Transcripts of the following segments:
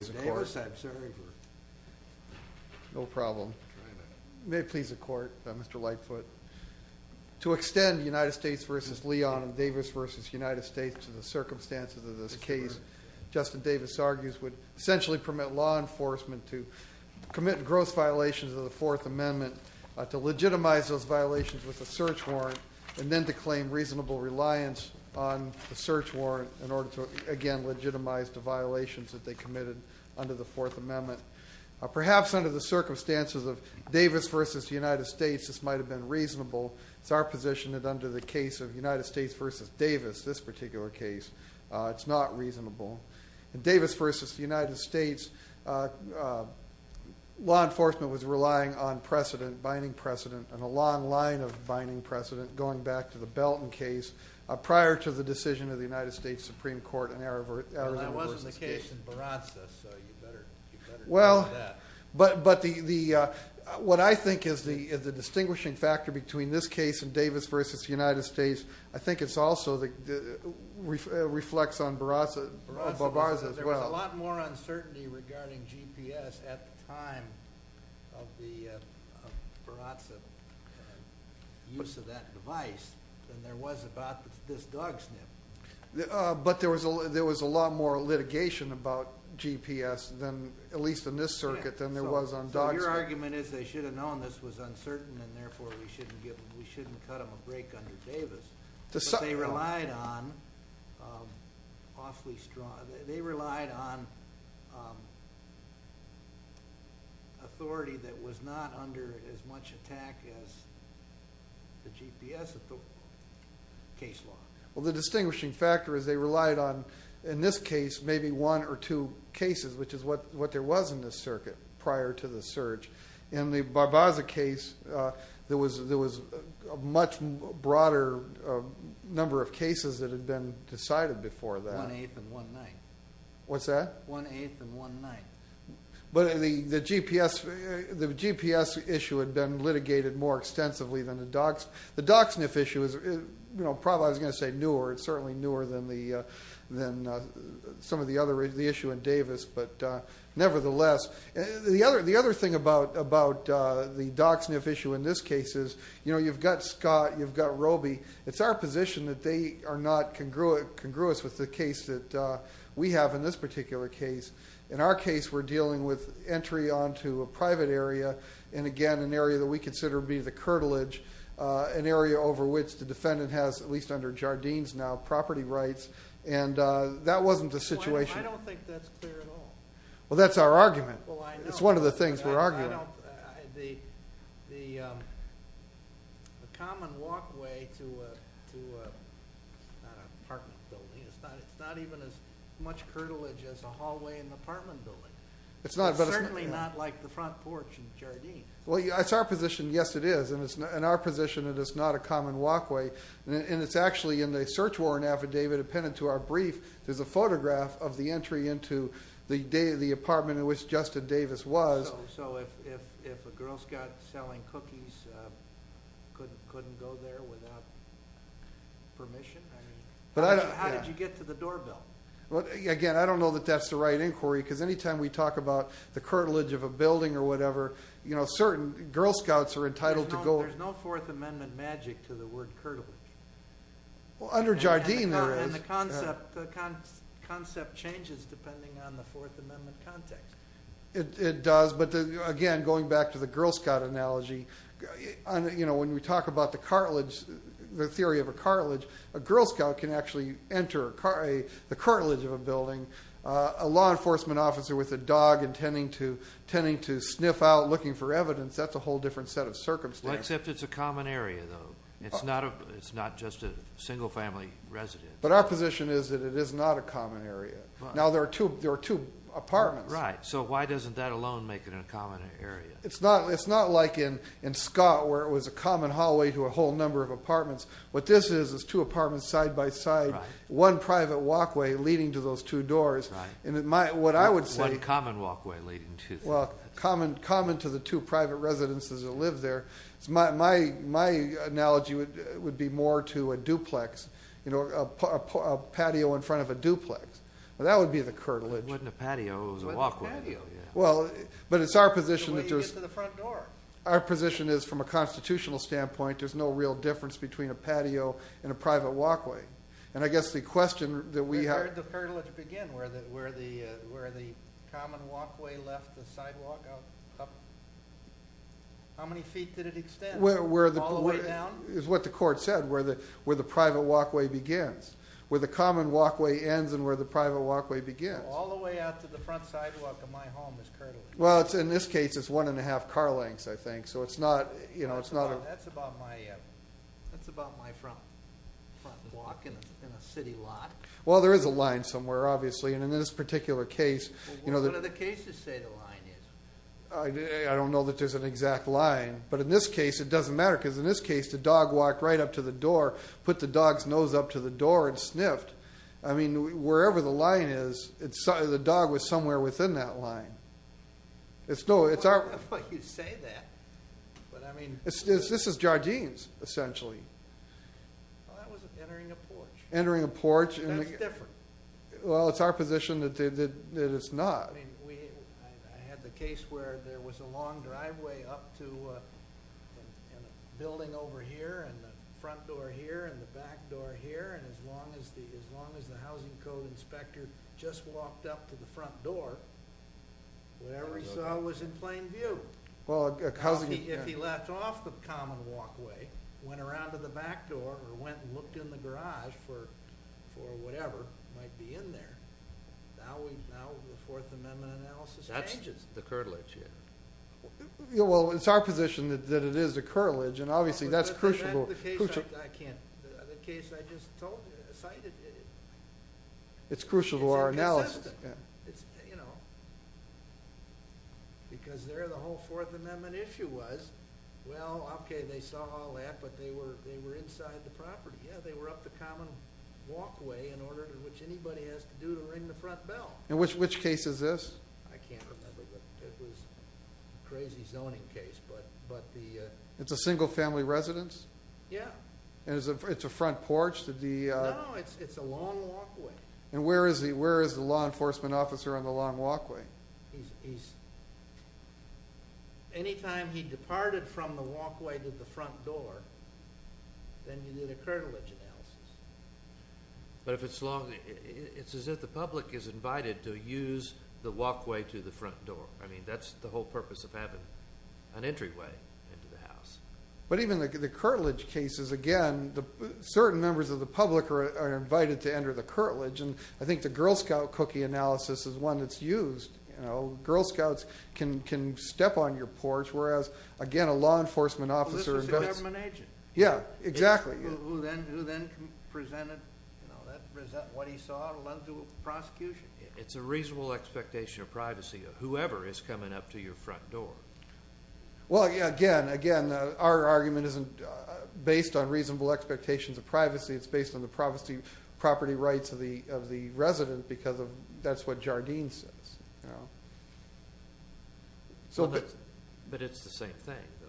To extend U.S. v. Leon and Davis v. U.S. to the circumstances of this case, Justin Davis argues would essentially permit law enforcement to commit gross violations of the Fourth Amendment, to legitimize those violations with a search warrant, and then to claim reasonable reliance on the search warrant in order to, again, legitimize the violations that they committed under the Fourth Amendment. Perhaps under the circumstances of Davis v. U.S., this might have been reasonable. It's our position that under the case of U.S. v. Davis, this particular case, it's not reasonable. In Davis v. U.S., law enforcement was relying on precedent, binding precedent, and a long line of binding precedent, going back to the Belton case, prior to the decision of the United States Supreme Court in Arizona v. the case. Well, that wasn't the case in Barraza, so you better know that. Well, but what I think is the distinguishing factor between this case and Davis v. U.S., I think it also reflects on Barraza as well. There was a lot more uncertainty regarding GPS at the time of the Barraza use of that device than there was about this dog sniff. But there was a lot more litigation about GPS, at least in this circuit, than there was on dog sniff. So your argument is they should have known this was uncertain, and therefore we shouldn't cut them a break under Davis, but they relied on authority that was not under as much attack as the GPS case law. Well, the distinguishing factor is they relied on, in this case, maybe one or two cases, which is what there was in this circuit prior to the surge. In the Barraza case, there was a much broader number of cases that had been decided before that. One-eighth and one-ninth. What's that? One-eighth and one-ninth. But the GPS issue had been litigated more extensively than the dog sniff issue. The dog sniff issue is probably, I was going to say, newer. It's certainly newer than some of the other issues in Davis. Nevertheless, the other thing about the dog sniff issue in this case is you've got Scott, you've got Roby. It's our position that they are not congruous with the case that we have in this particular case. In our case, we're dealing with entry onto a private area, and again, an area that we consider to be the curtilage, an area over which the defendant has, at least under Jardine's now, property rights. And that wasn't the situation. I don't think that's clear at all. Well, that's our argument. It's one of the things we're arguing. The common walkway to an apartment building, it's not even as much curtilage as a hallway in an apartment building. It's certainly not like the front porch in Jardine. Well, it's our position, yes it is. In our position, it is not a common walkway. And it's actually in the search warrant affidavit appended to our brief, there's a photograph of the entry into the apartment in which Justin Davis was. So if a Girl Scout selling cookies couldn't go there without permission, how did you get to the doorbell? Again, I don't know that that's the right inquiry, because any time we talk about the curtilage of a building or whatever, certain Girl Scouts are entitled to go. There's no Fourth Amendment magic to the word curtilage. Well, under Jardine there is. The concept changes depending on the Fourth Amendment context. It does. But again, going back to the Girl Scout analogy, when we talk about the theory of a curtilage, a Girl Scout can actually enter the curtilage of a building. A law enforcement officer with a dog intending to sniff out, looking for evidence, that's a whole different set of circumstances. Except it's a common area, though. It's not just a single family residence. But our position is that it is not a common area. Now, there are two apartments. Right. So why doesn't that alone make it a common area? It's not like in Scott, where it was a common hallway to a whole number of apartments. What this is, is two apartments side by side, one private walkway leading to those two doors. Right. One common walkway leading to the other. Well, common to the two private residences that live there. My analogy would be more to a duplex, a patio in front of a duplex. That would be the curtilage. It wasn't a patio, it was a walkway. But it's our position that there's... The way you get to the front door. Our position is, from a constitutional standpoint, there's no real difference between a patio and a private walkway. And I guess the question that we have... Where did the curtilage begin? Where the common walkway left the sidewalk up? How many feet did it extend? All the way down? It's what the court said, where the private walkway begins. Where the common walkway ends and where the private walkway begins. All the way out to the front sidewalk of my home is curtilage. Well, in this case, it's one and a half car lengths, I think. So it's not... That's about my front walk in a city lot. Well, there is a line somewhere, obviously. And in this particular case... What do the cases say the line is? I don't know that there's an exact line. But in this case, it doesn't matter. Because in this case, the dog walked right up to the door, put the dog's nose up to the door and sniffed. I mean, wherever the line is, the dog was somewhere within that line. It's our... I don't know why you say that. But, I mean... This is Jardine's, essentially. Well, that was entering a porch. Entering a porch. That's different. Well, it's our position that it's not. I had the case where there was a long driveway up to a building over here and the front door here and the back door here. And as long as the housing code inspector just walked up to the front door, whatever he saw was in plain view. If he left off the common walkway, went around to the back door or went and looked in the garage for whatever might be in there. Now the Fourth Amendment analysis changes. That's the curtilage here. Well, it's our position that it is the curtilage, and obviously that's crucial to... The case I just cited... It's crucial to our analysis. It's inconsistent. Because there the whole Fourth Amendment issue was, well, okay, they saw all that, but they were inside the property. Yeah, they were up the common walkway in order to which anybody has to do to ring the front bell. And which case is this? I can't remember, but it was a crazy zoning case. It's a single-family residence? Yeah. And it's a front porch? No, it's a long walkway. And where is the law enforcement officer on the long walkway? Anytime he departed from the walkway to the front door, then you need a curtilage analysis. But if it's long, it's as if the public is invited to use the walkway to the front door. I mean, that's the whole purpose of having an entryway into the house. But even the curtilage cases, again, certain members of the public are invited to enter the curtilage, and I think the Girl Scout cookie analysis is one that's used. Girl Scouts can step on your porch, whereas, again, a law enforcement officer goes. Well, this was a government agent. Yeah, exactly. Who then presented what he saw to the prosecution. It's a reasonable expectation of privacy of whoever is coming up to your front door. Well, again, our argument isn't based on reasonable expectations of privacy. It's based on the property rights of the resident because that's what Jardine says. But it's the same thing, though.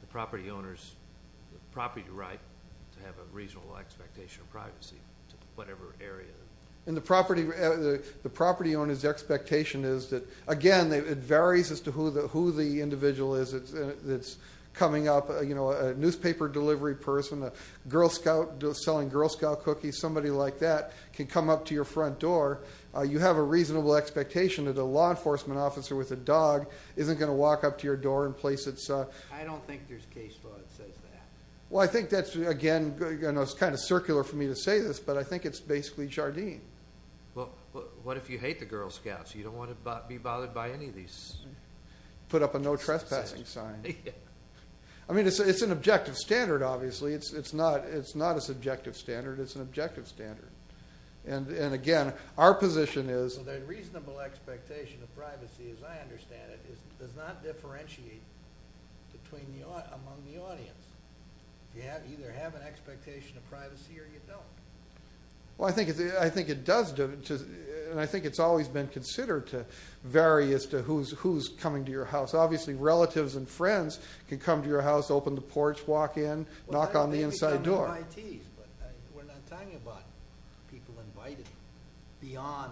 The property owner's property right to have a reasonable expectation of privacy to whatever area. The property owner's expectation is that, again, it varies as to who the individual is that's coming up. A newspaper delivery person, a Girl Scout selling Girl Scout cookies, somebody like that can come up to your front door. You have a reasonable expectation that a law enforcement officer with a dog isn't going to walk up to your door and place its... I don't think there's case law that says that. Well, I think that's, again, it's kind of circular for me to say this, but I think it's basically Jardine. Well, what if you hate the Girl Scouts? You don't want to be bothered by any of these... Put up a no trespassing sign. Yeah. I mean, it's an objective standard, obviously. It's not a subjective standard. It's an objective standard. And, again, our position is... Well, the reasonable expectation of privacy, as I understand it, does not differentiate among the audience. You either have an expectation of privacy or you don't. Well, I think it does, and I think it's always been considered to vary as to who's coming to your house. Obviously, relatives and friends can come to your house, open the porch, walk in, knock on the inside door. We're not talking about people invited beyond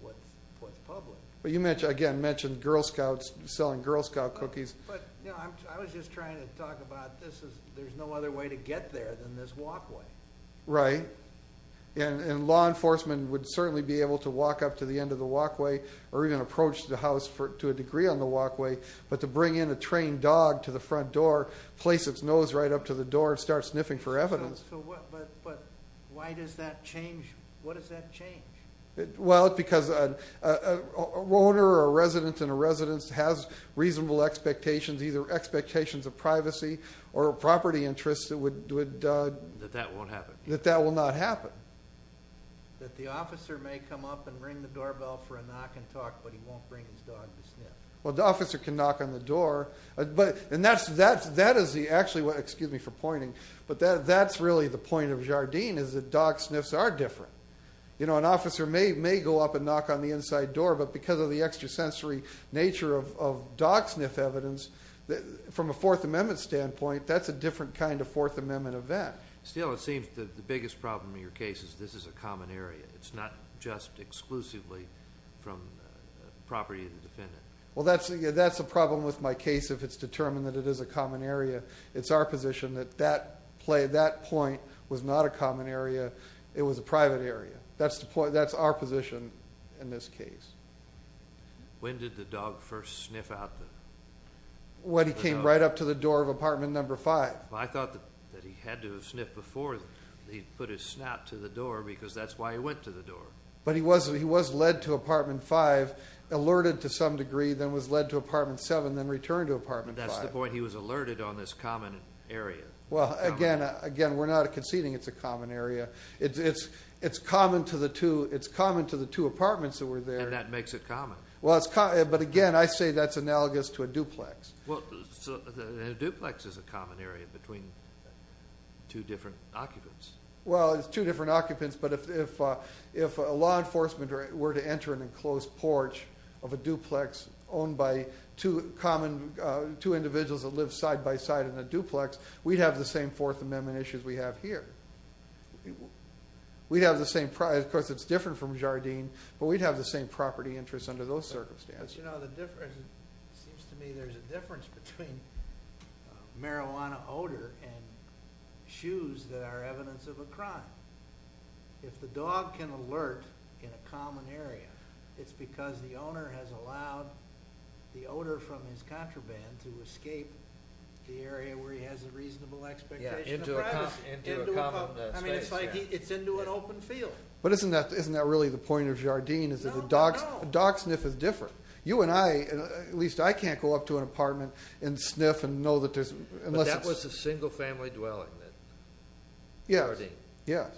what's public. Well, you, again, mentioned Girl Scouts, selling Girl Scout cookies. But, you know, I was just trying to talk about there's no other way to get there than this walkway. Right. And law enforcement would certainly be able to walk up to the end of the walkway or even approach the house to a degree on the walkway, but to bring in a trained dog to the front door, place its nose right up to the door, and start sniffing for evidence. But why does that change? What does that change? Well, it's because an owner or a resident in a residence has reasonable expectations, either expectations of privacy or property interests that would... That that won't happen. That that will not happen. That the officer may come up and ring the doorbell for a knock and talk, but he won't bring his dog to sniff. Well, the officer can knock on the door. And that is the, actually, excuse me for pointing, but that's really the point of Jardine is that dog sniffs are different. You know, an officer may go up and knock on the inside door, but because of the extrasensory nature of dog sniff evidence, from a Fourth Amendment standpoint, that's a different kind of Fourth Amendment event. Still, it seems the biggest problem in your case is this is a common area. It's not just exclusively from property of the defendant. Well, that's a problem with my case if it's determined that it is a common area. It's our position that that point was not a common area. It was a private area. That's our position in this case. When did the dog first sniff out the dog? Well, he came right up to the door of apartment number five. I thought that he had to have sniffed before he put his snout to the door because that's why he went to the door. But he was led to apartment five, alerted to some degree, then was led to apartment seven, then returned to apartment five. That's the point. He was alerted on this common area. Well, again, we're not conceding it's a common area. It's common to the two apartments that were there. And that makes it common. But, again, I say that's analogous to a duplex. A duplex is a common area between two different occupants. Well, it's two different occupants, but if law enforcement were to enter an enclosed porch of a duplex owned by two individuals that live side-by-side in a duplex, we'd have the same Fourth Amendment issues we have here. Of course, it's different from Jardine, but we'd have the same property interests under those circumstances. But, you know, it seems to me there's a difference between marijuana odor and shoes that are evidence of a crime. If the dog can alert in a common area, it's because the owner has allowed the odor from his contraband to escape the area where he has a reasonable expectation of privacy. Yeah, into a common space. I mean, it's like it's into an open field. But isn't that really the point of Jardine is that a dog sniff is different. You and I, at least I can't go up to an apartment and sniff and know that there's But that was a single-family dwelling, that Jardine. Yes.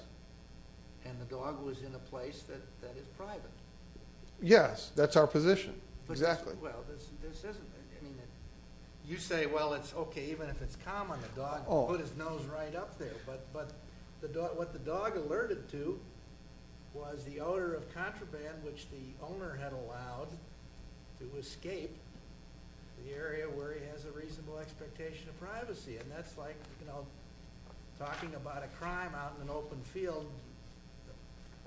And the dog was in a place that is private. Yes, that's our position, exactly. Well, this isn't. I mean, you say, well, it's okay, even if it's common, the dog can put his nose right up there. But what the dog alerted to was the odor of contraband, which the owner had allowed to escape the area where he has a reasonable expectation of privacy. And that's like talking about a crime out in an open field,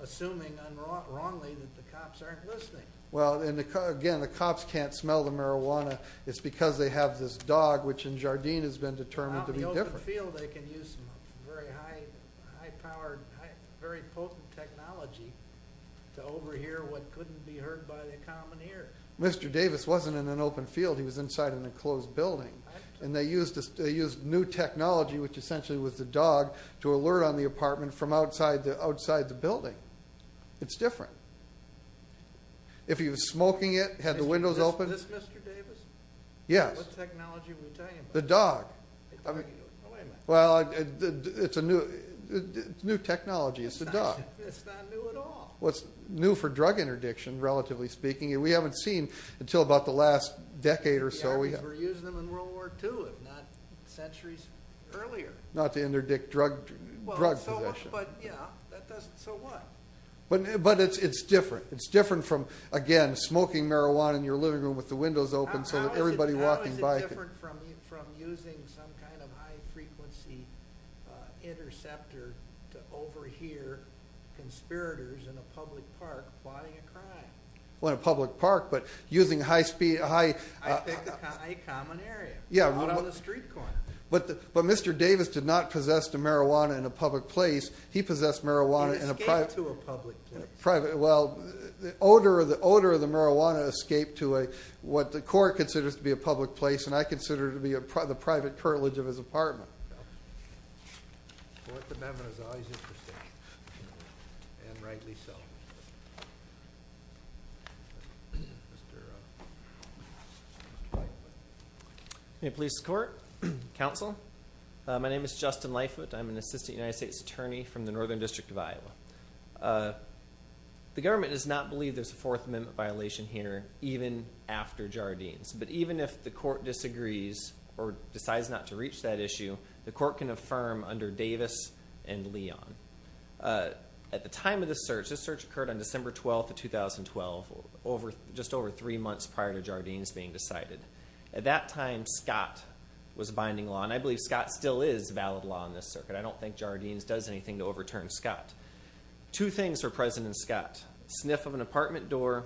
assuming unwrongly that the cops aren't listening. Well, again, the cops can't smell the marijuana. It's because they have this dog, which in Jardine has been determined to be different. Out in the open field, they can use some very high-powered, very potent technology to overhear what couldn't be heard by the common ear. Mr. Davis wasn't in an open field. He was inside an enclosed building. And they used new technology, which essentially was the dog, to alert on the apartment from outside the building. It's different. If he was smoking it, had the windows open. Is this Mr. Davis? Yes. What technology were you talking about? The dog. Oh, wait a minute. Well, it's new technology. It's the dog. It's not new at all. What's new for drug interdiction, relatively speaking, we haven't seen until about the last decade or so. Yeah, because we're using them in World War II, if not centuries earlier. Not to interdict drug possession. But, yeah, so what? But it's different. It's different from, again, smoking marijuana in your living room with the windows open so that everybody walking by can. How is it different from using some kind of high-frequency interceptor to overhear conspirators in a public park plotting a crime? Well, in a public park, but using high-speed. I think a common area. Yeah. Out on the street corner. But Mr. Davis did not possess the marijuana in a public place. He possessed marijuana in a private. He escaped to a public place. Well, the odor of the marijuana escaped to what the court considers to be a public place, and I consider it to be the private curtilage of his apartment. Well, the Fourth Amendment is always interesting, and rightly so. Mr. Leifert. May it please the Court. Counsel, my name is Justin Leifert. I'm an assistant United States attorney from the Northern District of Iowa. The government does not believe there's a Fourth Amendment violation here, even after Jardines. But even if the court disagrees or decides not to reach that issue, the court can affirm under Davis and Leon. At the time of the search, this search occurred on December 12th of 2012, just over three months prior to Jardines being decided. At that time, Scott was binding law, and I believe Scott still is valid law in this circuit. I don't think Jardines does anything to overturn Scott. Two things were present in Scott. A sniff of an apartment door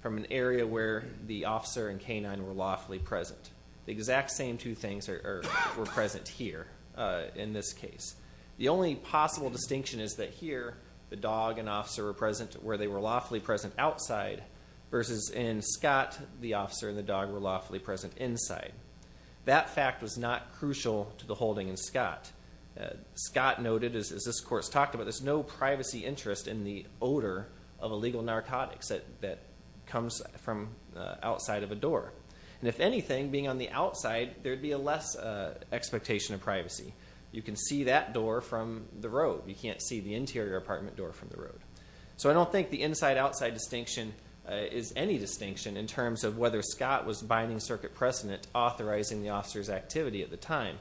from an area where the officer and K-9 were lawfully present. The exact same two things were present here in this case. The only possible distinction is that here, the dog and officer were present where they were lawfully present outside, versus in Scott, the officer and the dog were lawfully present inside. That fact was not crucial to the holding in Scott. Scott noted, as this Court's talked about, there's no privacy interest in the odor of illegal narcotics that comes from outside of a door. And if anything, being on the outside, there'd be a less expectation of privacy. You can see that door from the road. You can't see the interior apartment door from the road. So I don't think the inside-outside distinction is any distinction in terms of whether Scott was binding circuit precedent, authorizing the officer's activity at the time.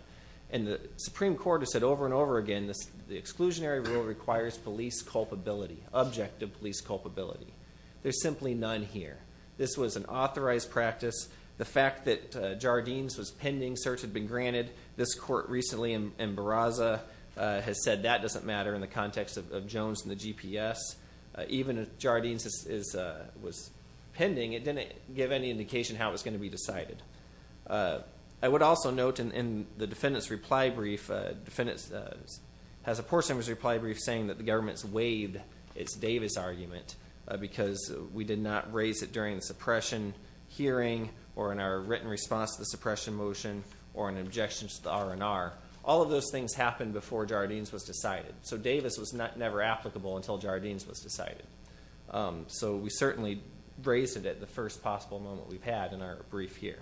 And the Supreme Court has said over and over again, the exclusionary rule requires police culpability, objective police culpability. There's simply none here. This was an authorized practice. The fact that Jardines was pending search had been granted. This Court recently in Barraza has said that doesn't matter in the context of Jones and the GPS. Even if Jardines was pending, it didn't give any indication how it was going to be decided. I would also note in the defendant's reply brief, the defendant has a portion of his reply brief saying that the government's waived its Davis argument because we did not raise it during the suppression hearing or in our written response to the suppression motion or an objection to the R&R. All of those things happened before Jardines was decided. So Davis was never applicable until Jardines was decided. So we certainly raised it at the first possible moment we've had in our brief here.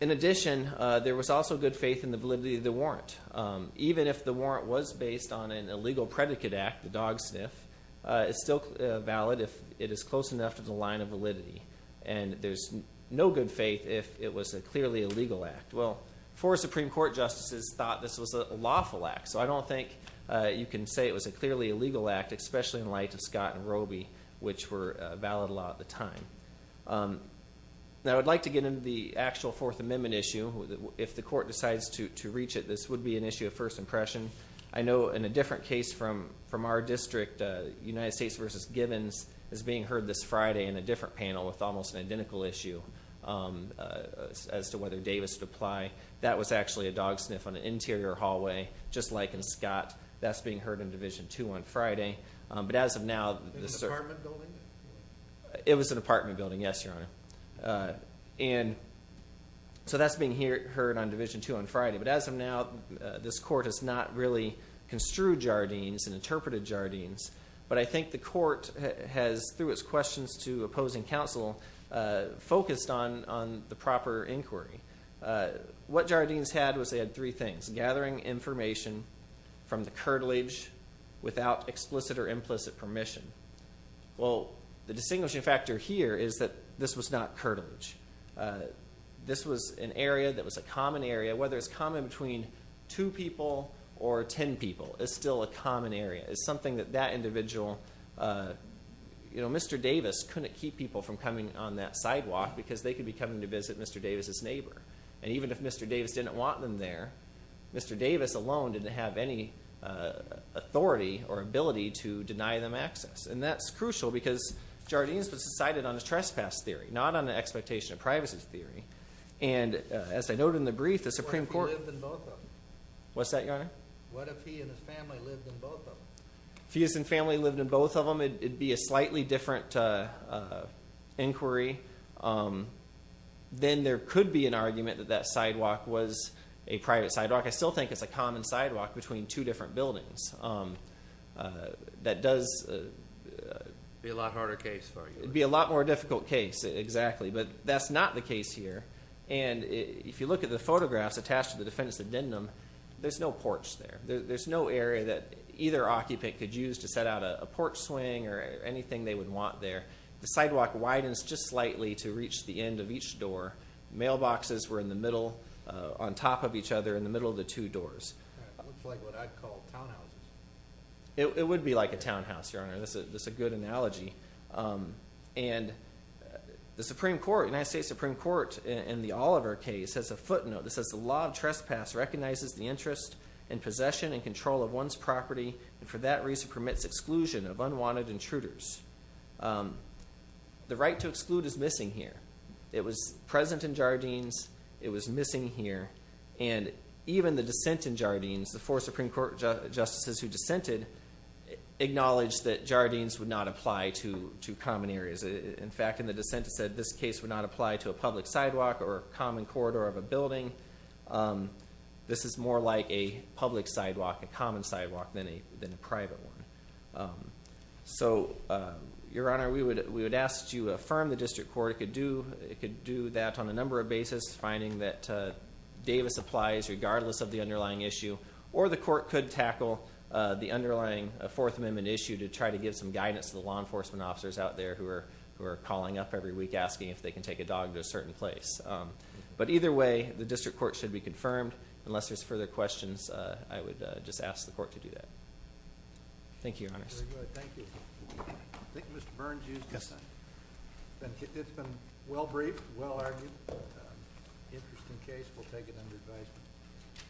In addition, there was also good faith in the validity of the warrant. Even if the warrant was based on an illegal predicate act, the dog sniff, it's still valid if it is close enough to the line of validity. And there's no good faith if it was a clearly illegal act. Well, four Supreme Court justices thought this was a lawful act, so I don't think you can say it was a clearly illegal act, especially in light of Scott and Roby, which were a valid law at the time. Now, I would like to get into the actual Fourth Amendment issue. If the Court decides to reach it, this would be an issue of first impression. I know in a different case from our district, United States v. Gibbons is being heard this Friday in a different panel with almost an identical issue as to whether Davis would apply. That was actually a dog sniff on an interior hallway, just like in Scott. That's being heard in Division 2 on Friday. But as of now, this is a... In an apartment building? It was an apartment building, yes, Your Honor. And so that's being heard on Division 2 on Friday. But as of now, this Court has not really construed Jardines and interpreted Jardines. But I think the Court has, through its questions to opposing counsel, focused on the proper inquiry. What Jardines had was they had three things, gathering information from the curtilage without explicit or implicit permission. Well, the distinguishing factor here is that this was not curtilage. This was an area that was a common area. Whether it's common between two people or ten people, it's still a common area. It's something that that individual... You know, Mr. Davis couldn't keep people from coming on that sidewalk because they could be coming to visit Mr. Davis's neighbor. And even if Mr. Davis didn't want them there, Mr. Davis alone didn't have any authority or ability to deny them access. And that's crucial because Jardines was decided on a trespass theory, not on an expectation of privacy theory. And as I noted in the brief, the Supreme Court... What if he lived in both of them? What's that, Your Honor? What if he and his family lived in both of them? If he and his family lived in both of them, it would be a slightly different inquiry. Then there could be an argument that that sidewalk was a private sidewalk. I still think it's a common sidewalk between two different buildings. That does... Be a lot harder case for you. It would be a lot more difficult case, exactly. But that's not the case here. And if you look at the photographs attached to the defendant's addendum, there's no porch there. There's no area that either occupant could use to set out a porch swing or anything they would want there. The sidewalk widens just slightly to reach the end of each door. Mailboxes were in the middle, on top of each other, in the middle of the two doors. Looks like what I'd call townhouses. It would be like a townhouse, Your Honor. That's a good analogy. And the Supreme Court, United States Supreme Court, in the Oliver case, has a footnote that says, The law of trespass recognizes the interest in possession and control of one's property and for that reason permits exclusion of unwanted intruders. The right to exclude is missing here. It was present in Jardines. It was missing here. And even the dissent in Jardines, the four Supreme Court justices who dissented, acknowledged that Jardines would not apply to common areas. In fact, in the dissent it said this case would not apply to a public sidewalk or a common corridor of a building. This is more like a public sidewalk, a common sidewalk, than a private one. So, Your Honor, we would ask that you affirm the district court. It could do that on a number of bases, finding that Davis applies regardless of the underlying issue, or the court could tackle the underlying Fourth Amendment issue to try to give some guidance to the law enforcement officers out there who are calling up every week asking if they can take a dog to a certain place. But either way, the district court should be confirmed. Unless there's further questions, I would just ask the court to do that. Thank you, Your Honors. Very good. Thank you. I think Mr. Burns used the sign. It's been well briefed, well argued. Interesting case. We'll take it under advisement.